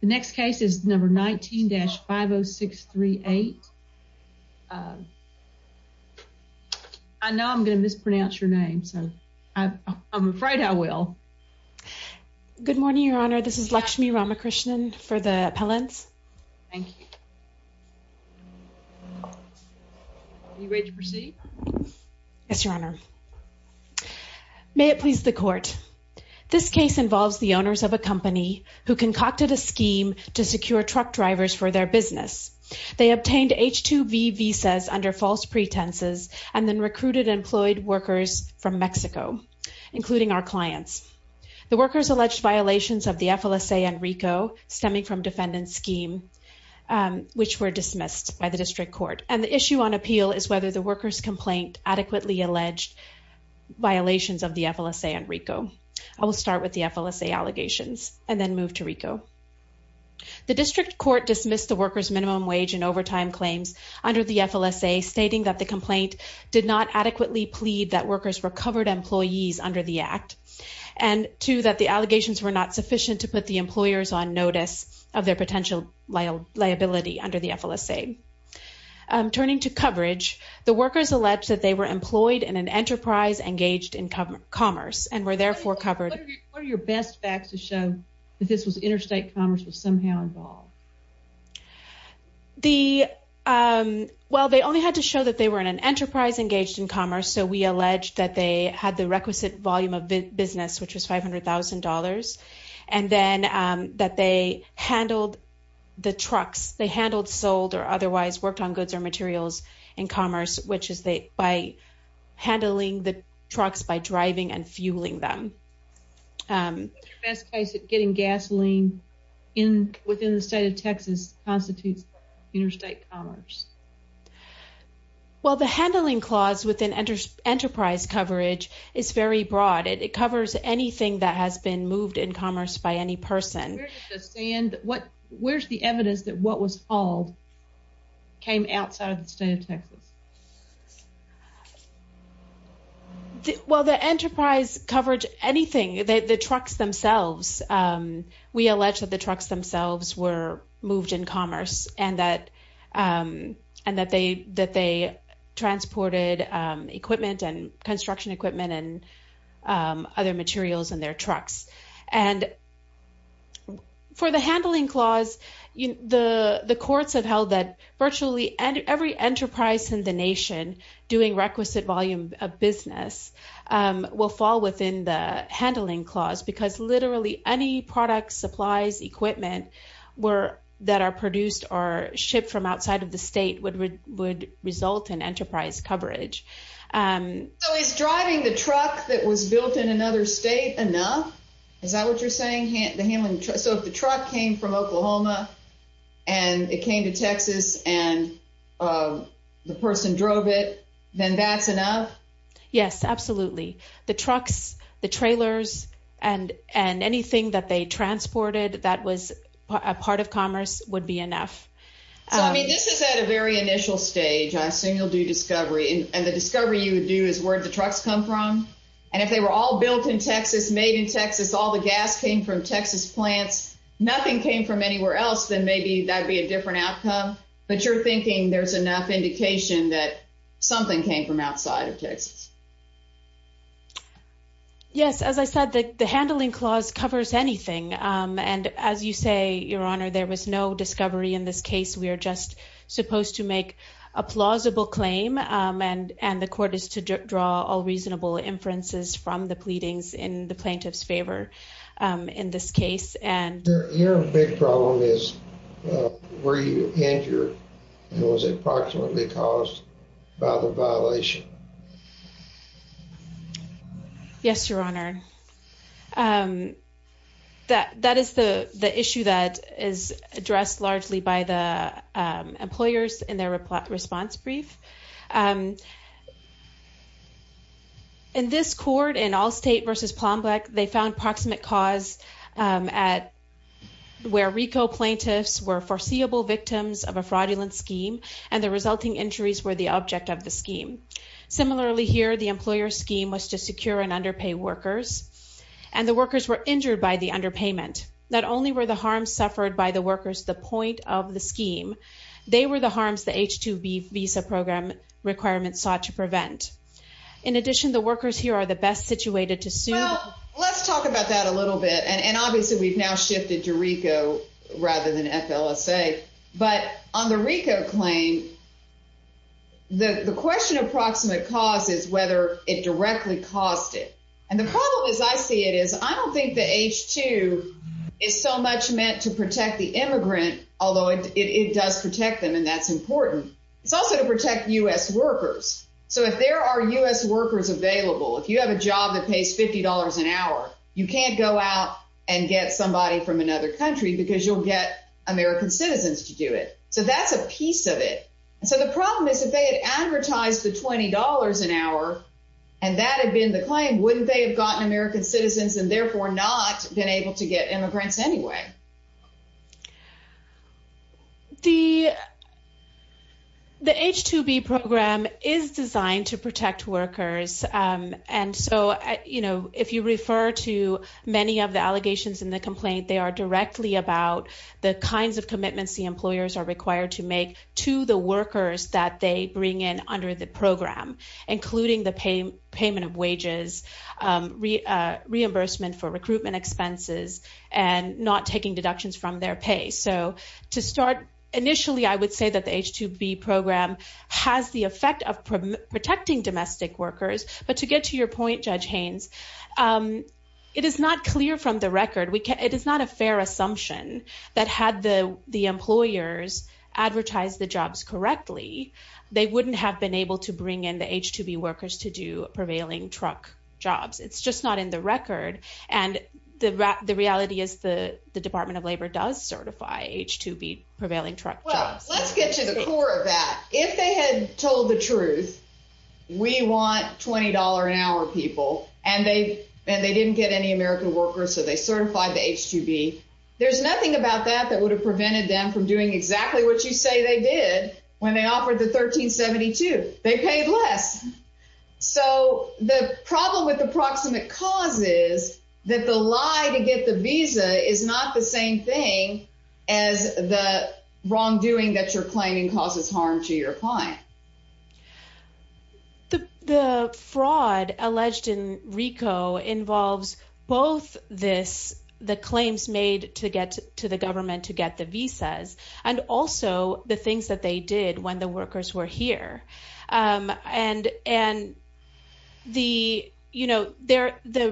The next case is number 19-50638. I know I'm going to mispronounce your name, so I'm afraid I will. Good morning, your honor. This is Lakshmi Ramakrishnan for the appellants. Thank you. Are you ready to proceed? Yes, your honor. May it please the court. This case involves the owners of a company who concocted a scheme to secure truck drivers for their business. They obtained H-2B visas under false pretenses and then recruited employed workers from Mexico, including our clients. The workers alleged violations of the FLSA and RICO, stemming from defendant's scheme, which were dismissed by the district court. And the issue on appeal is whether the workers' complaint adequately alleged violations of the FLSA and RICO. I will start with the FLSA allegations and then move to RICO. The district court dismissed the workers' minimum wage and overtime claims under the FLSA, stating that the complaint did not adequately plead that workers were covered employees under the act, and two, that the allegations were not sufficient to put the employers on notice of their potential liability under the FLSA. Turning to coverage, the workers alleged that they were employed in an enterprise engaged in that this was interstate commerce was somehow involved. Well, they only had to show that they were in an enterprise engaged in commerce, so we allege that they had the requisite volume of business, which was $500,000, and then that they handled the trucks. They handled, sold, or otherwise worked on goods or materials in commerce, which is by handling the trucks by driving and fueling them. What's your best case of getting gasoline within the state of Texas constitutes interstate commerce? Well, the handling clause within enterprise coverage is very broad. It covers anything that has been moved in commerce by any person. Where's the evidence that what was hauled was in commerce? Well, the enterprise coverage, anything, the trucks themselves, we allege that the trucks themselves were moved in commerce and that they transported equipment and construction equipment and other materials in their trucks. And for the handling clause, the courts have held that every enterprise in the nation doing requisite volume of business will fall within the handling clause because literally any products, supplies, equipment that are produced or shipped from outside of the state would result in enterprise coverage. So is driving the truck that was built in another state enough? Is that what you're saying? So if the truck came from Oklahoma and it came to Texas and the person drove it, then that's enough? Yes, absolutely. The trucks, the trailers, and anything that they transported that was a part of commerce would be enough. So, I mean, this is at a very initial stage. I assume you'll do discovery. And the discovery you would do is where did the trucks come from? And if they were all built in Texas, made in Texas, all the gas came from Texas plants, nothing came from anywhere else, then maybe that'd be a different outcome. But you're thinking there's enough indication that something came from outside of Texas. Yes, as I said, the handling clause covers anything. And as you say, Your Honor, there was no discovery in this case. We are just supposed to make a plausible claim. And the court is to draw all reasonable inferences from the pleadings in the plaintiff's favor in this case. Your big problem is where you injured and was it approximately caused by the violation? Yes, Your Honor. That is the issue that is addressed largely by the plaintiffs. In this court, in Allstate versus Plombek, they found approximate cause where RICO plaintiffs were foreseeable victims of a fraudulent scheme and the resulting injuries were the object of the scheme. Similarly here, the employer scheme was to secure and underpay workers. And the workers were injured by the underpayment. Not only were the harms suffered by the workers the point of the scheme, they were the harms the H-2B visa program requirements sought to prevent. In addition, the workers here are the best situated to sue. Well, let's talk about that a little bit. And obviously, we've now shifted to RICO rather than FLSA. But on the RICO claim, the question of approximate cause is whether it directly caused it. And the problem as I see it is I don't think the H-2 is so much meant to protect the immigrant, although it does protect them and that's important. It's also to protect U.S. workers. So if there are U.S. workers available, if you have a job that pays $50 an hour, you can't go out and get somebody from another country because you'll get American citizens to do it. So that's a piece of it. So the problem is if they had advertised the $20 an hour and that had been the claim, wouldn't they have gotten American citizens and therefore not been able to get immigrants anyway? The H-2B program is designed to protect workers. And so if you refer to many of the allegations in the complaint, they are directly about the kinds of commitments the employers are required to make to the workers that they bring in under the program, including the payment of wages, reimbursement for recruitment expenses, and not taking deductions from their pay. So to start, initially, I would say that the H-2B program has the effect of protecting domestic workers. But to get to your point, Judge Haynes, it is not clear from the record. It is not a fair assumption that had the employers advertised the jobs correctly, they wouldn't have been able to bring in the H-2B workers to do prevailing truck jobs. It's just not in the record. And the reality is the Department of Labor does certify H-2B prevailing truck jobs. Well, let's get to the core of that. If they had told the truth, we want $20 an hour people, and they didn't get any American workers, so they certified the H-2B, there's nothing about that that would have prevented them from doing exactly what you say they did when they offered the $13.72. They paid less. So the problem with the proximate cause is that the lie to get the visa is not the same thing as the wrongdoing that you're claiming causes harm to your client. The fraud alleged in RICO involves both this, the claims made to get to the government to get the visas, and also the things that they did when the workers were here. And the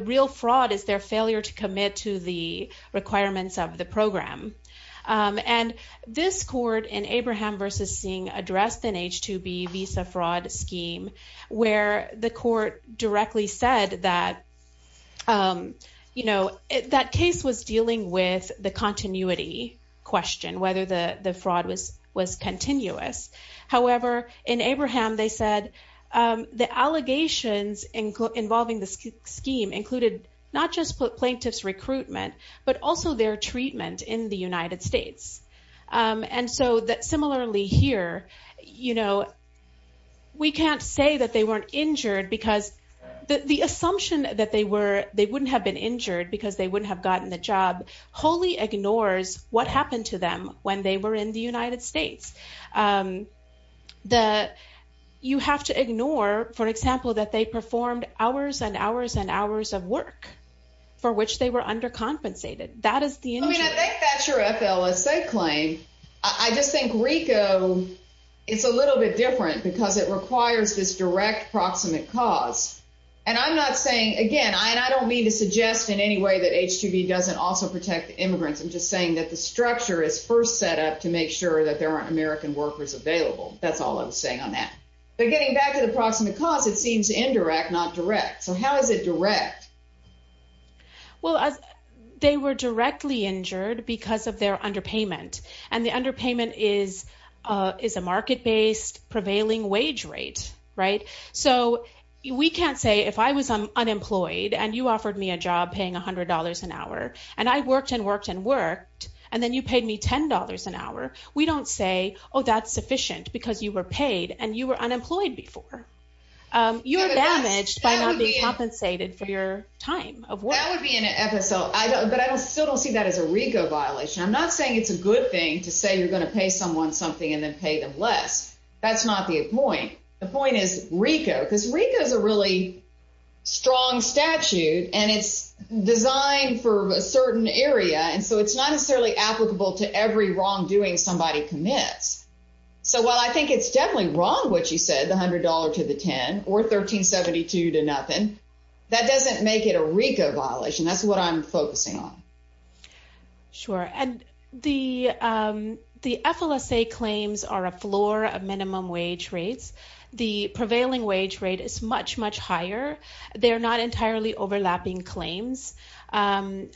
real fraud is their failure to commit to the requirements of the program. And this court in Abraham v. Singh addressed an H-2B visa fraud scheme where the case was dealing with the continuity question, whether the fraud was continuous. However, in Abraham, they said the allegations involving the scheme included not just plaintiff's recruitment, but also their treatment in the United States. And so similarly here, we can't say that they weren't injured because the assumption that they wouldn't have been injured because they wouldn't have gotten the job wholly ignores what happened to them when they were in the United States. You have to ignore, for example, that they performed hours and hours and hours of work for which they were undercompensated. That is the injury. I mean, I think that's your FLSA claim. I just think RICO, it's a little bit different because it requires this direct proximate cause. And I'm not saying, again, and I don't mean to suggest in any way that H-2B doesn't also protect the immigrants. I'm just saying that the structure is first set up to make sure that there aren't American workers available. That's all I was saying on that. But getting back to the proximate cause, it seems indirect, not direct. So how is it direct? Well, they were directly injured because of their underpayment. And the underpayment is a market-based prevailing wage rate, right? So we can't say if I was unemployed and you paid me $200 an hour and I worked and worked and worked, and then you paid me $10 an hour, we don't say, oh, that's sufficient because you were paid and you were unemployed before. You're damaged by not being compensated for your time of work. That would be an episode. But I still don't see that as a RICO violation. I'm not saying it's a good thing to say you're going to pay someone something and then pay them less. That's not the point. The point is RICO, because RICO is a really strong statute and it's designed for a certain area. And so it's not necessarily applicable to every wrongdoing somebody commits. So while I think it's definitely wrong what you said, the $100 to the 10 or 1372 to nothing, that doesn't make it a RICO violation. That's what I'm focusing on. Sure. And the FLSA claims are a floor of minimum wage rates. The prevailing wage rate is much, much higher. They're not entirely overlapping claims. And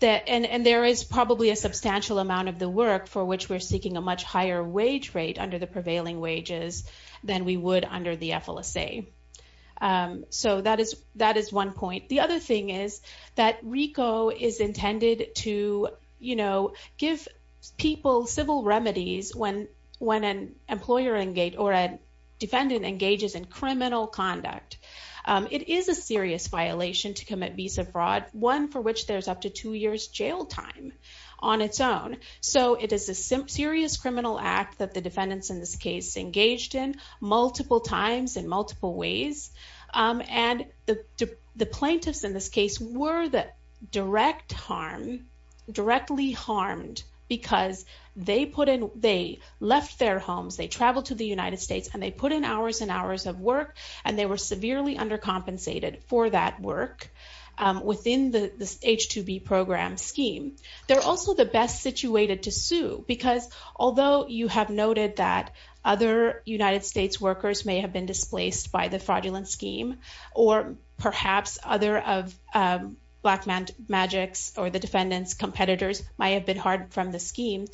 there is probably a substantial amount of the work for which we're seeking a much higher wage rate under the prevailing wages than we would under the FLSA. So that is one point. The other thing is that RICO is intended to give people civil remedies when an employer or a defendant engages in criminal conduct. It is a serious violation to commit visa fraud, one for which there's up to two years jail time on its own. So it is a serious criminal act that defendants in this case engaged in multiple times in multiple ways. And the plaintiffs in this case were directly harmed because they left their homes, they traveled to the United States, and they put in hours and hours of work, and they were severely undercompensated for that work within the H-2B program scheme. They're also the best situated to sue because although you have noted that other United States workers may have been displaced by the fraudulent scheme, or perhaps other of Blackmagic's or the defendant's competitors might have been harmed from the scheme,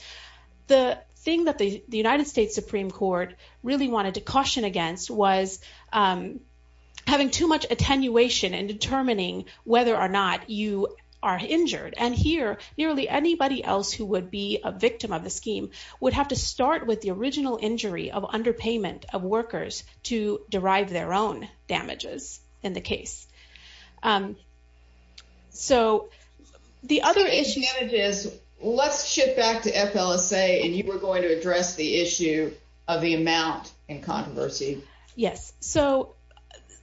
the thing that the United States Supreme Court really wanted to caution against was having too much attenuation in determining whether or not you are injured. And here, nearly anybody else who would be a victim of the scheme would have to start with the original injury of underpayment of workers to derive their own damages in the case. So the other issue... The issue is, let's shift back to FLSA, and you were going to address the issue of the amount and controversy. Yes. So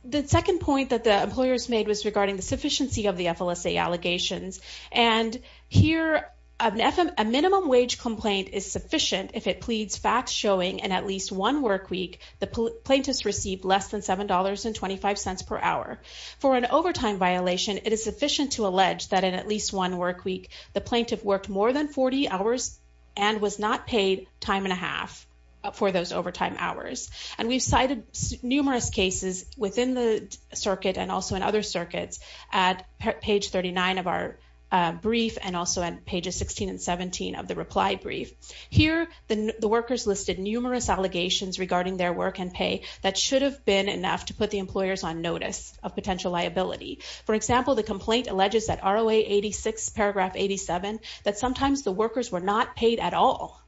the second point that the employers made was regarding the sufficiency of the FLSA allegations. And here, a minimum wage complaint is sufficient if it pleads facts showing in at least one work week, the plaintiff's received less than $7.25 per hour. For an overtime violation, it is sufficient to allege that in at least one work week, the plaintiff worked more than 40 hours and was not paid time and a half for those overtime hours. And we've cited numerous cases within the circuit and also in other circuits at page 39 of our brief and also at pages 16 and 17 of the reply brief. Here, the workers listed numerous allegations regarding their work and pay that should have been enough to put the employers on notice of potential liability. For example, the complaint alleges that ROA 86, paragraph 87, that sometimes the workers were not paid at all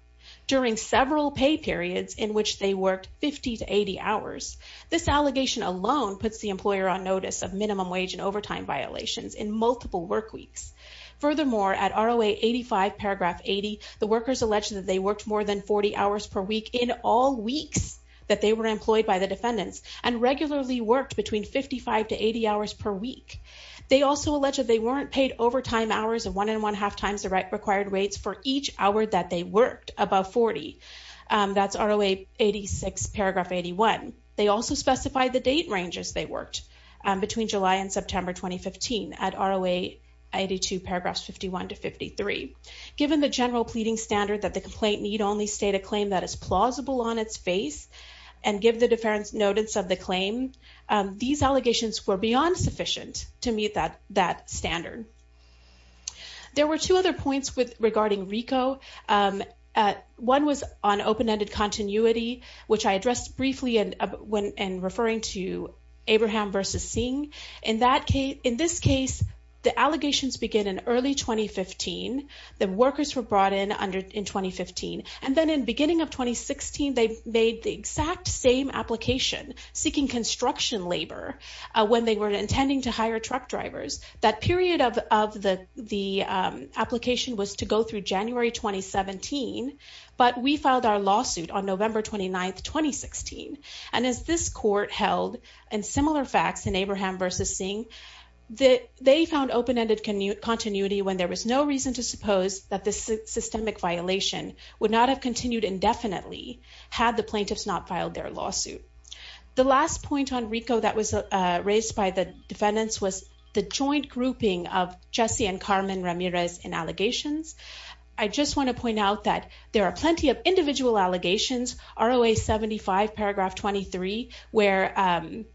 during several pay periods in which they worked 50 to 80 hours. This allegation alone puts the employer on notice of minimum wage and overtime violations in multiple work weeks. Furthermore, at ROA 85, paragraph 80, the workers alleged that they worked more than 40 hours per week in all weeks that they were employed by the defendants and regularly worked between 55 to 80 hours per week. They also alleged they weren't paid overtime hours of one and one half times the required rates for each hour that they worked above 40. That's ROA 86, paragraph 81. They also specified the date ranges they worked between July and September 2015 at ROA 82, paragraphs 51 to 53. Given the general pleading standard that the complaint need only state a claim that is plausible on its face and give the defense notice of the claim, these allegations were beyond sufficient to meet that standard. There were two other points regarding RICO. One was on open-ended continuity, which I addressed briefly in referring to Abraham versus Singh. In this case, the allegations begin in early 2015. The workers were brought in in 2015, and then in beginning of 2016, they made the exact same application seeking construction labor when they were intending to hire truck drivers. That period of the application was to go through January 2017, but we filed our lawsuit on November 29th, 2016. As this court held in similar facts in Abraham versus Singh, they found open-ended continuity when there was no reason to suppose that the systemic violation would not have continued indefinitely had the plaintiffs not filed their lawsuit. The last point on RICO that was raised by the defendants was the joint grouping of Jesse and Carmen Ramirez in allegations. I just want to point out that there are plenty of individual allegations, ROA 75, paragraph 23, where,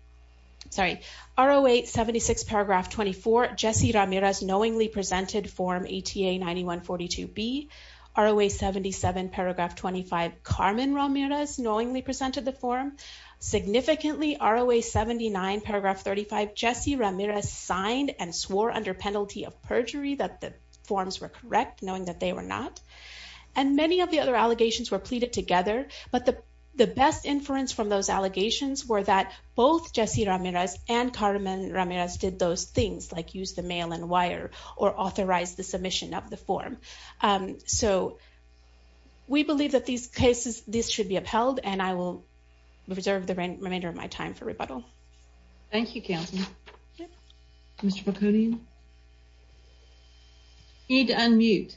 sorry, ROA 76, paragraph 24, Jesse Ramirez knowingly presented form ATA 9142B. ROA 77, paragraph 25, Carmen Ramirez knowingly presented the form. Significantly, ROA 79, paragraph 35, Jesse Ramirez signed and swore under penalty of perjury that the forms were correct, knowing that they were not. And many of the other allegations were pleaded together, but the best inference from those allegations were that both Jesse Ramirez and Carmen Ramirez did those things, like use the mail and wire or authorize the submission of the form. So we believe that these cases, this should be upheld, and I will reserve the remainder of my time for rebuttal. Thank you, counsel. Mr. Balconian. You need to unmute.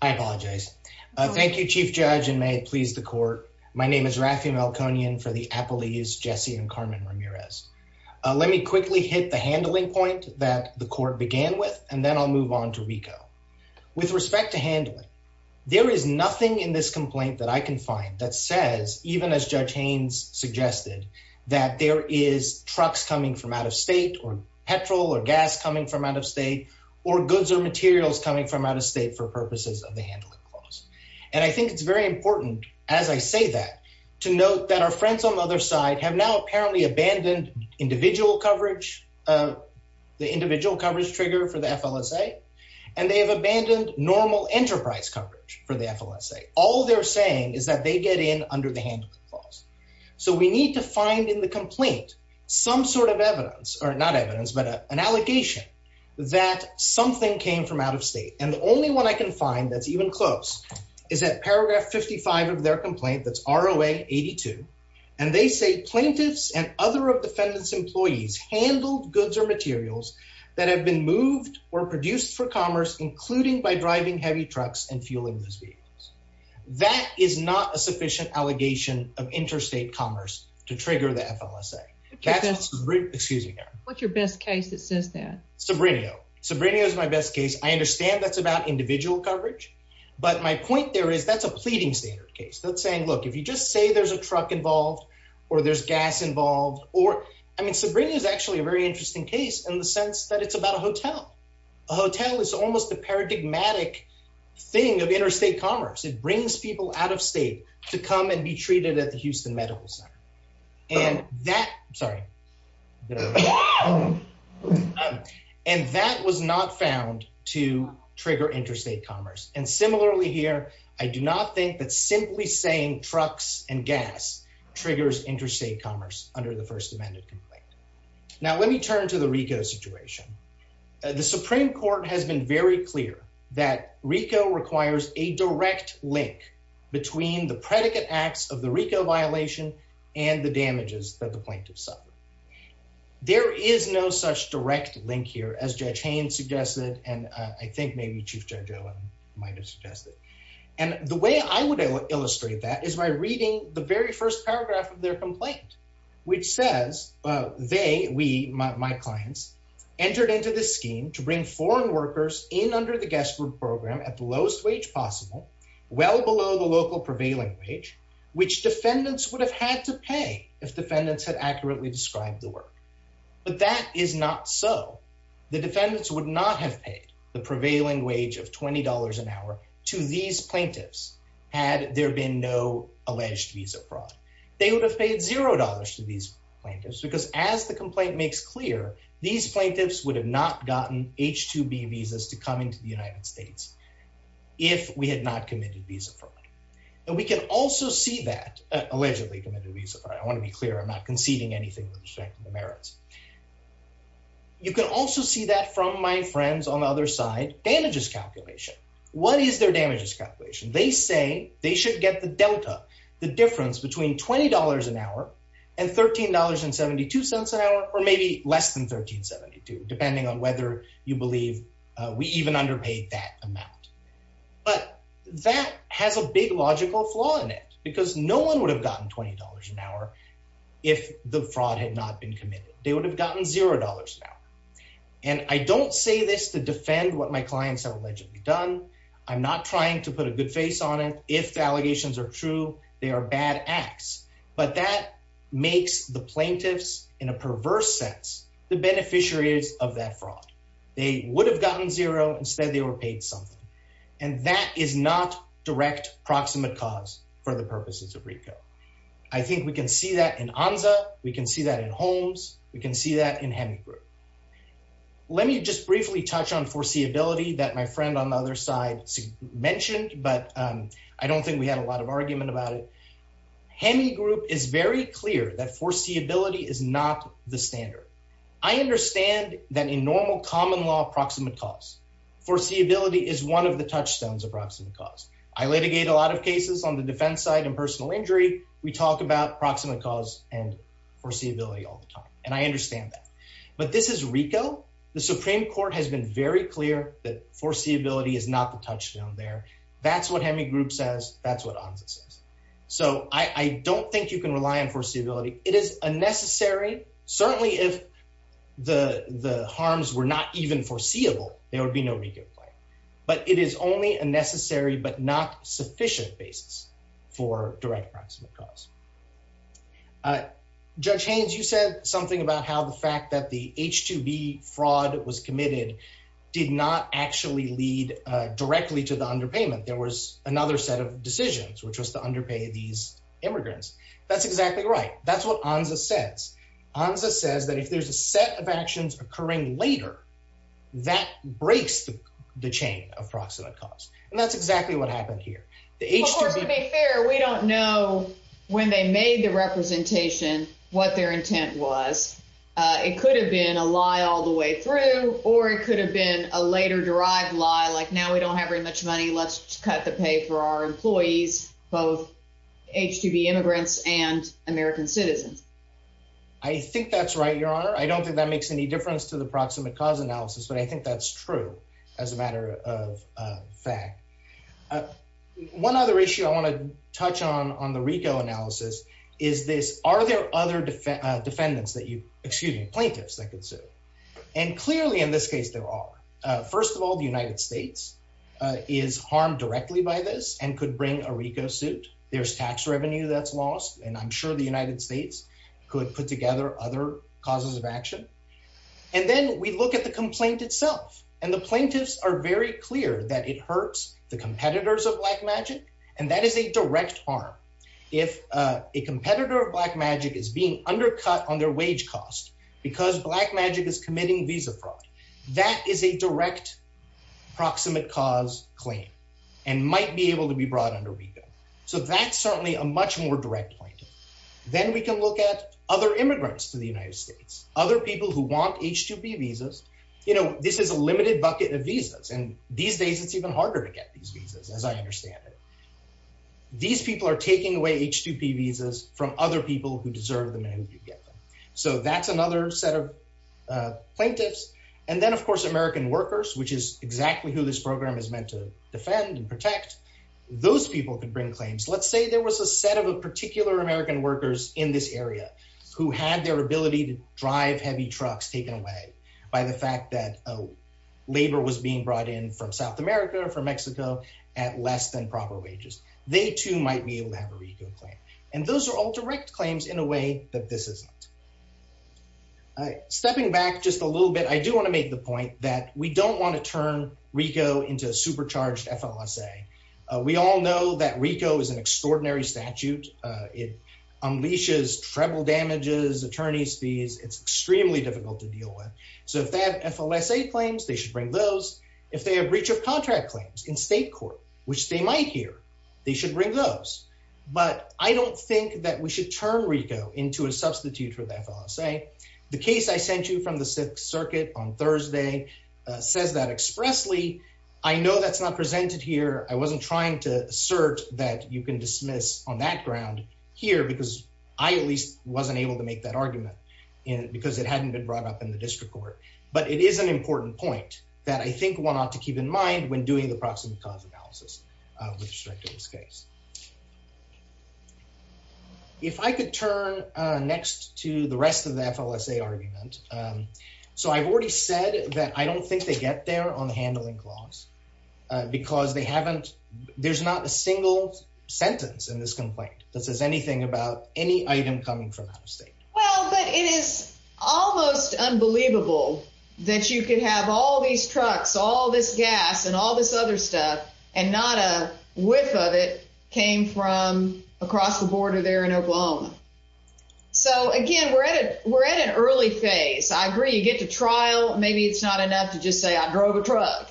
I apologize. Thank you, Chief Judge, and may it please the court. My name is Rafi Balconian for the appellees, Jesse and Carmen Ramirez. Let me quickly hit the handling point that the court began with, and then I'll move on to RICO. With respect to handling, there is nothing in this that there is trucks coming from out of state or petrol or gas coming from out of state or goods or materials coming from out of state for purposes of the handling clause. And I think it's very important, as I say that, to note that our friends on the other side have now apparently abandoned individual coverage, the individual coverage trigger for the FLSA, and they have abandoned normal enterprise coverage for the FLSA. All they're saying is that they get in under the fine in the complaint some sort of evidence, or not evidence, but an allegation that something came from out of state. And the only one I can find that's even close is at paragraph 55 of their complaint that's ROA 82, and they say plaintiffs and other defendants' employees handled goods or materials that have been moved or produced for commerce, including by driving heavy trucks and fueling those vehicles. That is not a sufficient allegation of interstate commerce to trigger the FLSA. Excuse me. What's your best case that says that? Sabrinio. Sabrinio is my best case. I understand that's about individual coverage, but my point there is that's a pleading standard case. That's saying, look, if you just say there's a truck involved or there's gas involved or, I mean, Sabrinio is actually a very interesting case in the sense that it's about a hotel. A hotel is almost a paradigmatic thing of interstate commerce. It brings people out of state to come and be treated at the Houston Medical Center. And that, sorry, and that was not found to trigger interstate commerce. And similarly here, I do not think that simply saying trucks and gas triggers interstate commerce under the First Amendment complaint. Now let me turn to the RICO situation. The Supreme Court has been very clear that RICO requires a direct link between the predicate acts of the RICO violation and the damages that the plaintiff suffered. There is no such direct link here as Judge Haynes suggested. And I think maybe Chief Judge Owen might've suggested. And the way I would illustrate that is by reading the very first paragraph of their complaint, which says they, we, my clients entered into this scheme to bring foreign workers in under the guest room program at the lowest wage possible, well below the local prevailing wage, which defendants would have had to pay if defendants had accurately described the work. But that is not so. The defendants would not have paid the prevailing wage of $20 an hour to these plaintiffs had there been no alleged visa fraud. They would have paid $0 to these plaintiffs because as the complaint makes clear, these plaintiffs would have not gotten H-2B visas to come into the United States if we had not committed visa fraud. And we can also see that allegedly committed visa fraud. I want to be clear, I'm not conceding anything with respect to the merits. You can also see that from my friends on the other side, damages calculation. What is their damages calculation? They say they should get the delta, the difference between $20 an hour and $13.72 an hour, or maybe less than $13.72, depending on whether you believe we even underpaid that amount. But that has a big logical flaw in it because no one would have gotten $20 an hour if the fraud had not been committed. They would have gotten $0 an hour. And I don't say this to defend what my clients have allegedly done. I'm not trying to put a good face on it. If the allegations are true, they are bad acts. But that makes the plaintiffs, in a perverse sense, the beneficiaries of that fraud. They would have gotten $0. Instead, they were paid something. And that is not direct proximate cause for the purposes of RICO. I think we can see that in ANZA. We can see that in Holmes. We can see that in mentioned, but I don't think we had a lot of argument about it. Heming Group is very clear that foreseeability is not the standard. I understand that in normal common law, proximate cause. Foreseeability is one of the touchstones of proximate cause. I litigate a lot of cases on the defense side and personal injury. We talk about proximate cause and foreseeability all the time. And I understand that. But this is RICO. The Supreme Court has very clear that foreseeability is not the touchstone there. That's what Heming Group says. That's what ANZA says. So I don't think you can rely on foreseeability. It is unnecessary. Certainly, if the harms were not even foreseeable, there would be no RICO claim. But it is only a necessary but not sufficient basis for direct proximate cause. Judge Haynes, you said something about how the fact that the H-2B fraud was committed did not actually lead directly to the underpayment. There was another set of decisions, which was to underpay these immigrants. That's exactly right. That's what ANZA says. ANZA says that if there's a set of actions occurring later, that breaks the chain of proximate cause. And that's exactly what happened here. The H-2B- they made the representation what their intent was, it could have been a lie all the way through, or it could have been a later-derived lie, like, now we don't have very much money, let's cut the pay for our employees, both H-2B immigrants and American citizens. I think that's right, Your Honor. I don't think that makes any difference to the proximate cause analysis, but I think that's true as a matter of fact. One other issue I want to touch on on the RICO analysis is this, are there other defendants that you- excuse me, plaintiffs that could sue? And clearly, in this case, there are. First of all, the United States is harmed directly by this and could bring a RICO suit. There's tax revenue that's lost, and I'm sure the United States could put together other causes of action. And then we look at the complaint itself, and the plaintiffs are very clear that it hurts the competitors of Blackmagic, and that is a direct harm. If a competitor of Blackmagic is being undercut on their wage cost because Blackmagic is committing visa fraud, that is a direct proximate cause claim and might be able to be brought under RICO. So that's certainly a much more direct point. Then we can look at other immigrants to the United States, other people who want H-2B visas. You know, this is a limited bucket of visas, and these days it's even harder to get these visas, as I understand it. These people are taking away H-2B visas from other people who deserve them and who do get them. So that's another set of plaintiffs. And then, of course, American workers, which is exactly who this program is meant to defend and protect, those people could bring claims. Let's say there was a set of particular American workers in this area who had their ability to drive heavy trucks taken away by the fact that labor was being brought in from South America or from Mexico at less than proper wages. They, too, might be able to have a RICO claim. And those are all direct claims in a way that this isn't. Stepping back just a little bit, I do want to make the point that we don't want to turn RICO into a supercharged FLSA. We all know that RICO is an extraordinary statute. It unleashes treble damages, attorney's fees. It's extremely difficult to deal with. So if they have FLSA claims, they should bring those. If they have breach of contract claims in state court, which they might here, they should bring those. But I don't think that we should turn RICO into a substitute for the FLSA. The case I sent you from the Sixth Circuit on Thursday says that expressly. I know that's not presented here. I wasn't trying to assert that you can dismiss on that ground here because I at least wasn't able to make that argument because it hadn't been brought up in the district court. But it is an important point that I think one ought to keep in mind when doing the turn next to the rest of the FLSA argument. So I've already said that I don't think they get there on the handling clause because they haven't. There's not a single sentence in this complaint that says anything about any item coming from out of state. Well, but it is almost unbelievable that you can have all these trucks, all this gas and all this other stuff and not a whiff of it came from across the border there in Oklahoma. So again, we're at it. We're at an early phase. I agree you get to trial. Maybe it's not enough to just say I drove a truck.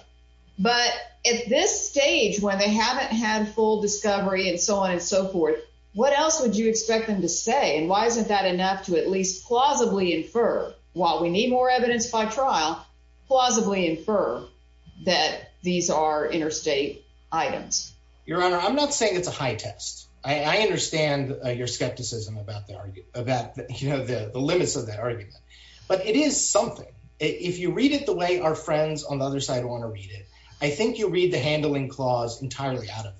But at this stage when they haven't had full discovery and so on and so forth, what else would you expect them to say? And why isn't that enough to at least plausibly infer while we need more evidence by trial, plausibly infer that these are interstate items? Your Honor, I'm not saying it's a high test. I understand your skepticism about the argument about the limits of that argument, but it is something. If you read it the way our friends on the other side want to read it, I think you'll read the handling clause entirely out of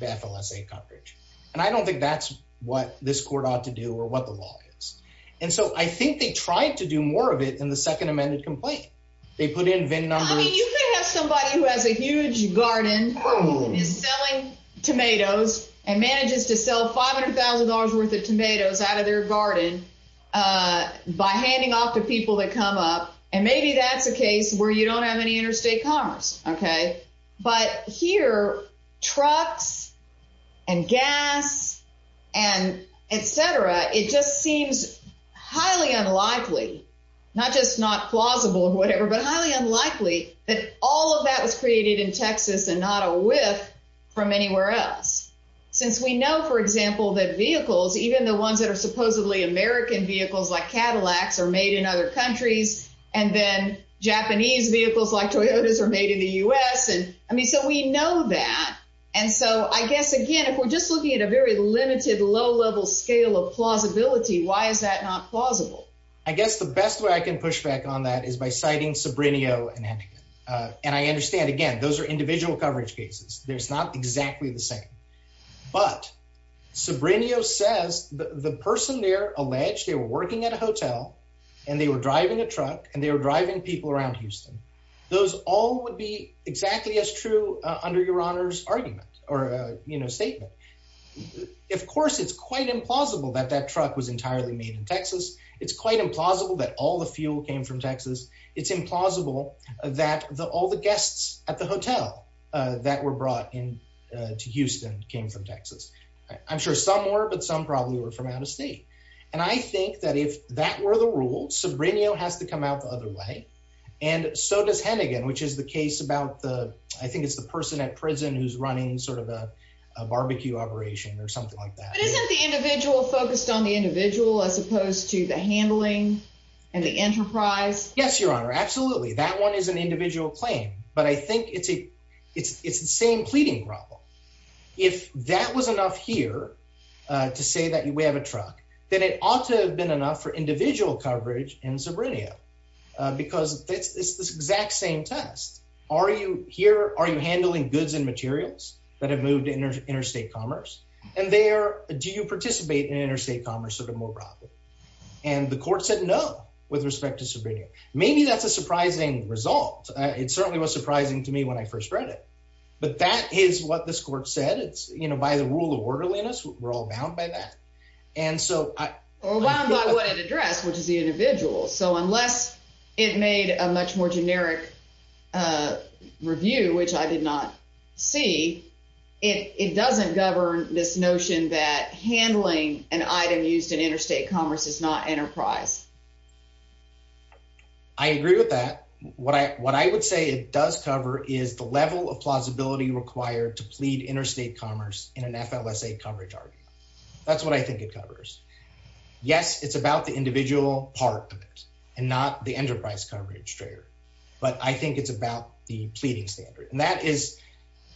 the FLSA coverage. And I don't think that's what this court ought to do or what the law is. And so I think they tried to do more of it in the second amended complaint. They put in VIN numbers. I mean, you could have somebody who has a huge garden is selling tomatoes and manages to sell $500,000 worth of tomatoes out of their garden by handing off to people that come up. And maybe that's a case where you don't have any interstate commerce. OK, but here, trucks and gas and et cetera, it just seems highly unlikely, not just not plausible or whatever, but highly unlikely that all of that was created in Texas and not a whiff from anywhere else, since we know, for example, that vehicles, even the ones that are supposedly American vehicles like Cadillacs are made in other countries. And then Japanese vehicles like Toyotas are made in the US. And I mean, so we know that. And so I guess, again, if we're just looking at a very limited, low level scale of plausibility, why is that not plausible? I guess the best way I can push back on that is by citing Sobrino and Antigone. And I understand, again, those are individual coverage cases. There's not exactly the same. But Sobrino says the person there alleged they were working at a hotel and they were driving a truck and they were driving people around Houston. Those all would be exactly as true under your honor's argument or statement. Of course, it's quite implausible that that truck was entirely made in Texas. It's quite implausible that all the fuel came from Texas. It's implausible that all the guests at the hotel that were brought in to Houston came from Texas. I'm sure some were, but some probably were from out of state. And I think that if that were the rule, Sobrino has to come out the other way. And so does Hennigan, which is the case about the, I think it's the person at prison who's running sort of a barbecue operation or something like that. But isn't the individual focused on the individual as opposed to the handling and the enterprise? Yes, your honor. Absolutely. That one is an individual claim, but I think it's the same pleading problem. If that was enough here to say that we have a truck, then it ought to have been enough for individual coverage in Sobrino because it's this exact same test. Are you here? Are you handling goods and materials that have moved to interstate commerce? And there, do you participate in interstate commerce sort of more broadly? And the court said, no, with respect to Sobrino. Maybe that's a surprising result. It certainly was surprising to me when I first read it, but that is what this court said. It's, you know, by the rule of orderliness, we're all bound by that. And so I... Well, bound by what it addressed, which is the individual. So unless it made a much more generic review, which I did not see, it doesn't govern this notion that handling an item used in interstate commerce is not enterprise. I agree with that. What I would say it does cover is the level of plausibility required to plead interstate commerce in an FLSA coverage argument. That's what I think it covers. Yes, it's about the individual part of it and not the enterprise coverage trigger, but I think it's about the pleading standard. And that is,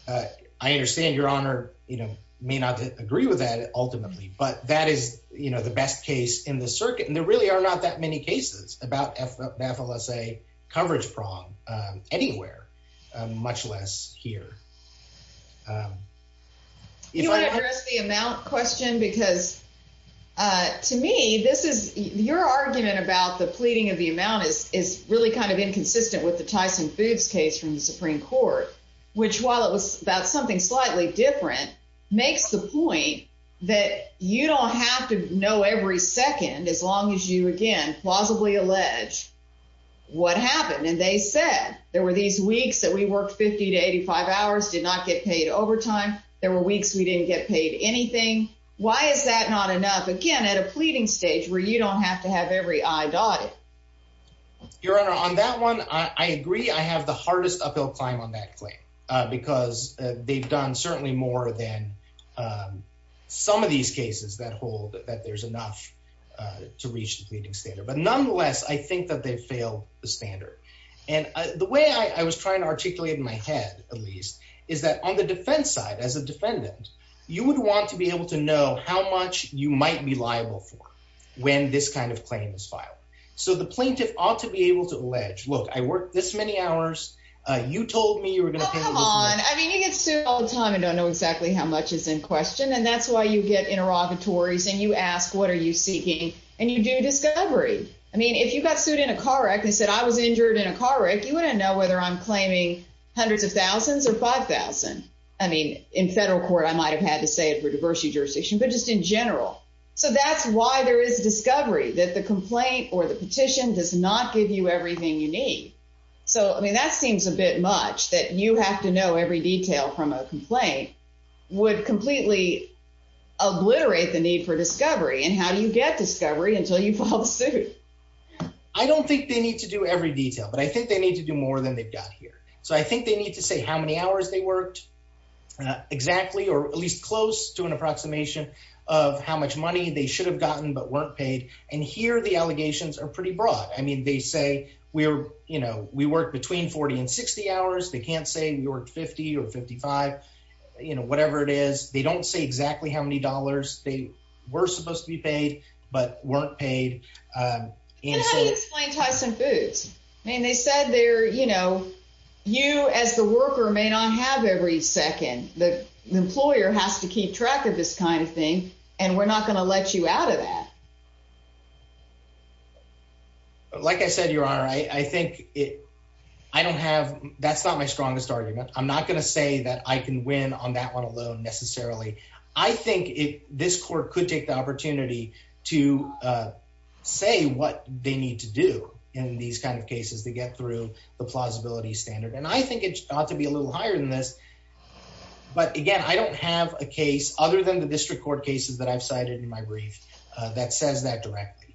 I understand your honor, you know, may not agree with that ultimately, but that is, you know, the best case in the circuit. And there really are not that many cases about FLSA coverage prong anywhere, much less here. You want to address the amount question? Because to me, this is your argument about the pleading of the amount is really kind of inconsistent with the Tyson Foods case from the Supreme Court, which while it was about something slightly different, makes the point that you don't have to know every second, as long as you, again, plausibly allege what happened. And they said there were these weeks that we worked 50 to 85 hours, did not get paid overtime. There were weeks we didn't get paid anything. Why is that not enough? Again, at a pleading stage where you don't have to have every day? Your honor, on that one, I agree. I have the hardest uphill climb on that claim because they've done certainly more than some of these cases that hold that there's enough to reach the pleading standard. But nonetheless, I think that they've failed the standard. And the way I was trying to articulate in my head, at least, is that on the defense side, as a defendant, you would want to be able to know how much you might be liable for when this kind of claim is filed. So the plaintiff ought to be able to allege, look, I worked this many hours. You told me you were going to pay me this much. Oh, come on. I mean, you get sued all the time and don't know exactly how much is in question. And that's why you get interrogatories and you ask, what are you seeking? And you do discovery. I mean, if you got sued in a car wreck and said, I was injured in a car wreck, you wouldn't know whether I'm claiming hundreds of thousands or 5,000. I mean, in federal court, I might've had to say it for diversity jurisdiction, but just in general. So that's why there is discovery that the complaint or the petition does not give you everything you need. So, I mean, that seems a bit much that you have to know every detail from a complaint would completely obliterate the need for discovery. And how do you get discovery until you fall suit? I don't think they need to do every detail, but I think they need to do more than they've got here. So I think they need to say how many hours they worked exactly, or at least close to an And here the allegations are pretty broad. I mean, they say we're, you know, we work between 40 and 60 hours. They can't say we worked 50 or 55, you know, whatever it is, they don't say exactly how many dollars they were supposed to be paid, but weren't paid. And how do you explain Tyson Foods? I mean, they said there, you know, you as the worker may not have every second, the employer has to keep track of this kind of thing. And we're not going to let you out of that. Like I said, Your Honor, I think it, I don't have, that's not my strongest argument. I'm not going to say that I can win on that one alone necessarily. I think it, this court could take the opportunity to say what they need to do in these kinds of cases to get through the plausibility standard. And I think it ought to be a little higher than this. But again, I don't have a case other than the district court cases that I've cited in my brief that says that directly.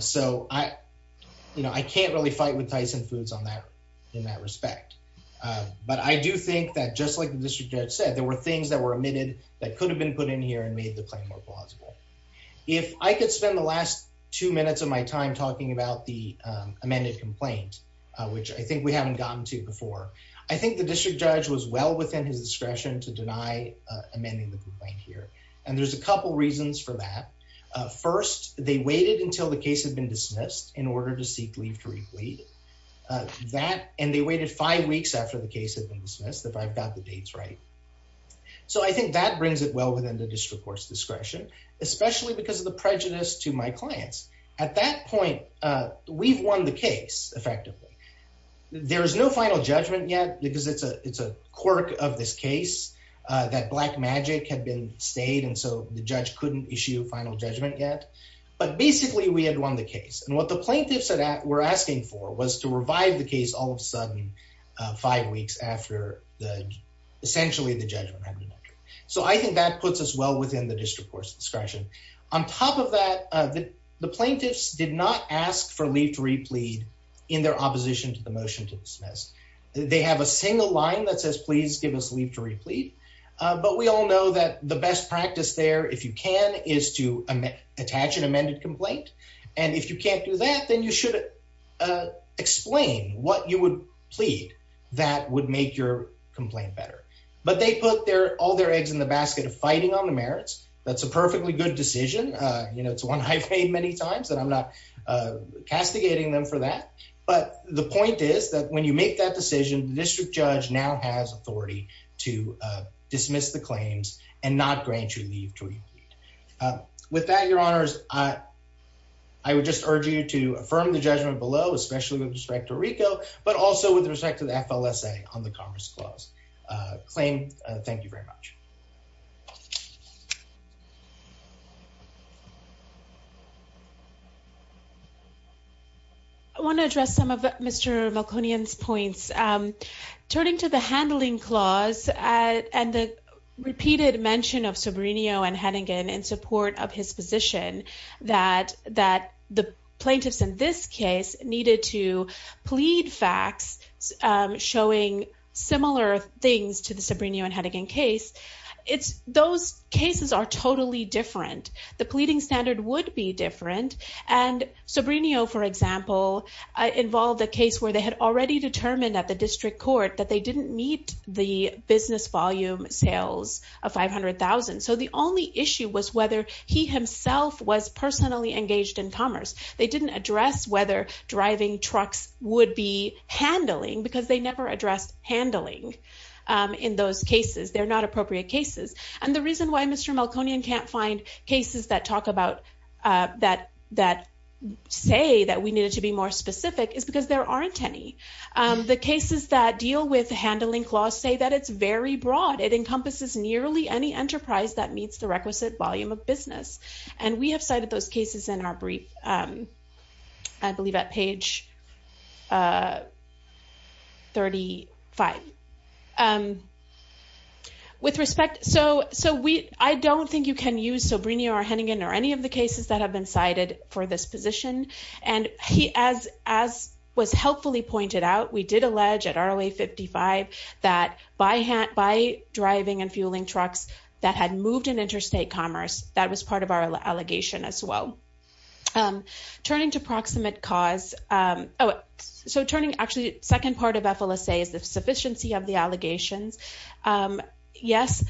So I, you know, I can't really fight with Tyson Foods on that in that respect. But I do think that just like the district judge said, there were things that were omitted that could have been put in here and made the claim more plausible. If I could spend the last two minutes of my time talking about the amended complaint, which I think we haven't gotten to before, I think the district judge was well within his discretion to deny amending the complaint here. And there's a couple reasons for that. First, they waited until the case had been dismissed in order to seek leave to read. That, and they waited five weeks after the case had been dismissed if I've got the dates right. So I think that brings it well within the district court's discretion, especially because of the prejudice to my clients. At that point, we've won the case effectively. There is no final judgment yet because it's a, it's a quirk of this case that black magic had been stayed. And so the judge couldn't issue final judgment yet, but basically we had won the case. And what the plaintiffs said that we're asking for was to revive the case all of a sudden, five weeks after the, essentially the judgment. So I think that puts us well within the district court's discretion. On top of that, the plaintiffs did not ask for leave to replead in their opposition to the motion to dismiss. They have a single line that says, please give us leave to replead. But we all know that the best practice there, if you can, is to attach an amended complaint. And if you can't do that, then you should explain what you would plead that would make your complaint better. But they put their, all their eggs in the basket of fighting on the merits. That's a perfectly good decision. You know, it's one I've made many times that I'm not castigating them for that. But the point is that when you make that decision, the district judge now has authority to dismiss the claims and not grant you leave to repeat. With that, your honors, I would just urge you to affirm the judgment below, especially with respect to Rico, but also with respect to the FLSA on the Commerce Clause claim. Thank you very much. I want to address some of Mr. Malkonian's points. Turning to the Handling Clause and the repeated mention of Sobrino and Hennigan in support of his position, that the plaintiffs in this case needed to plead facts showing similar things to the Sobrino and Hennigan case. Those cases are totally different. The pleading standard would be different. And Sobrino, for example, involved a case where they had already determined at the district court that they didn't meet the business volume sales of $500,000. So the only issue was whether he himself was personally engaged in commerce. They didn't address whether driving trucks would be handling because they never addressed handling in those cases. They're not appropriate cases. And the reason why Mr. Malkonian can't find cases that talk about that, that say that we needed to be more specific is because there aren't any. The cases that deal with the Handling Clause say that it's very broad. It encompasses nearly any enterprise that meets the requisite volume of $500,000. And we have cited those cases in our brief, I believe, at page 35. With respect, so I don't think you can use Sobrino or Hennigan or any of the cases that have been cited for this position. And as was helpfully pointed out, we did allege at ROA 55 that by driving and fueling trucks that had moved in interstate commerce, that was part of our allegation as well. Turning to proximate cause. So turning actually second part of FLSA is the sufficiency of the allegations. Yes,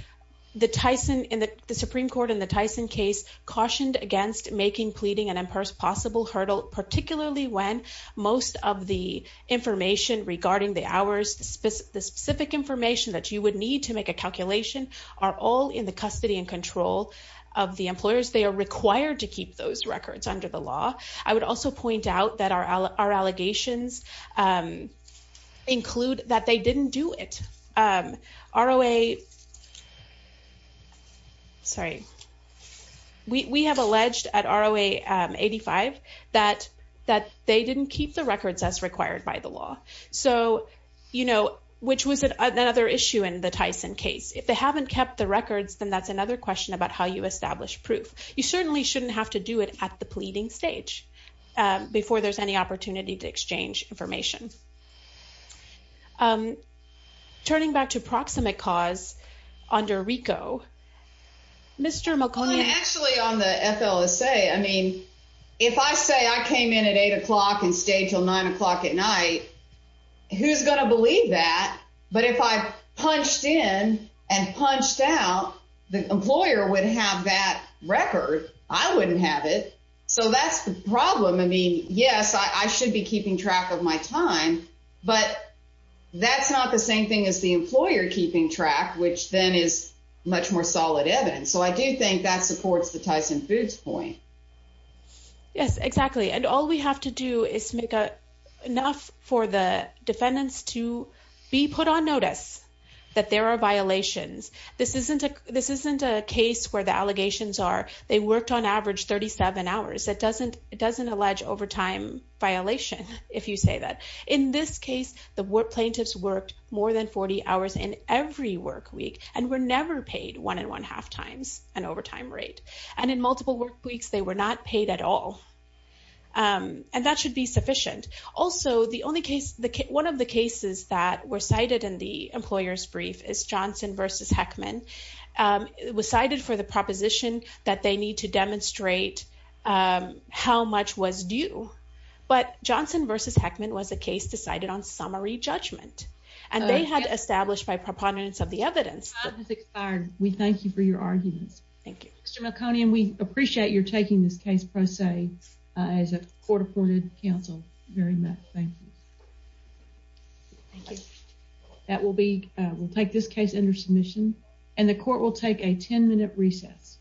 the Supreme Court in the Tyson case cautioned against making, pleading and impossible hurdle, particularly when most of the information regarding the hours, the specific information that you would need to make a calculation are all in the custody and control of the employers. They are required to keep those records under the law. I would also point out that our allegations include that they didn't do it. ROA, sorry, we have alleged at ROA 85 that they didn't keep the records as required by the law. So, which was another issue in the Tyson case. If they haven't kept the records, then that's another question about how you establish proof. You certainly shouldn't have to do it at the pleading stage before there's any opportunity to exchange information. Turning back to proximate cause under RICO, Mr. McConaughey. Actually on the FLSA, I mean, if I say I came in at eight o'clock and stayed till nine o'clock at night, who's going to believe that? But if I punched in and punched out, the employer would have that record. I wouldn't have it. So that's the problem. I mean, yes, I should be keeping track of my time, but that's not the same thing as the employer keeping track, which then is much more solid evidence. So I do think that supports the Tyson Foods point. Yes, exactly. And all we have to do is make enough for the defendants to be put on notice that there are violations. This isn't a case where the allegations are they worked on average 37 hours. It doesn't allege overtime violation, if you say that. In this case, the plaintiffs worked more than 40 hours in every work week and were never paid one and one half times an overtime rate. And in multiple work weeks, they were not paid at all. And that should be sufficient. Also, one of the cases that were cited in the employer's brief is Johnson versus Heckman. It was cited for the proposition that they need to demonstrate how much was due. But Johnson versus Heckman was a case decided on summary judgment. And they had established by preponderance of the evidence. Time has expired. We thank you for your arguments. Thank you. Mr. Melconian, we appreciate your taking this case pro se as a court-appointed counsel. Very much. Thank you. That will be, we'll take this case under submission and the court will take a 10 minute recess.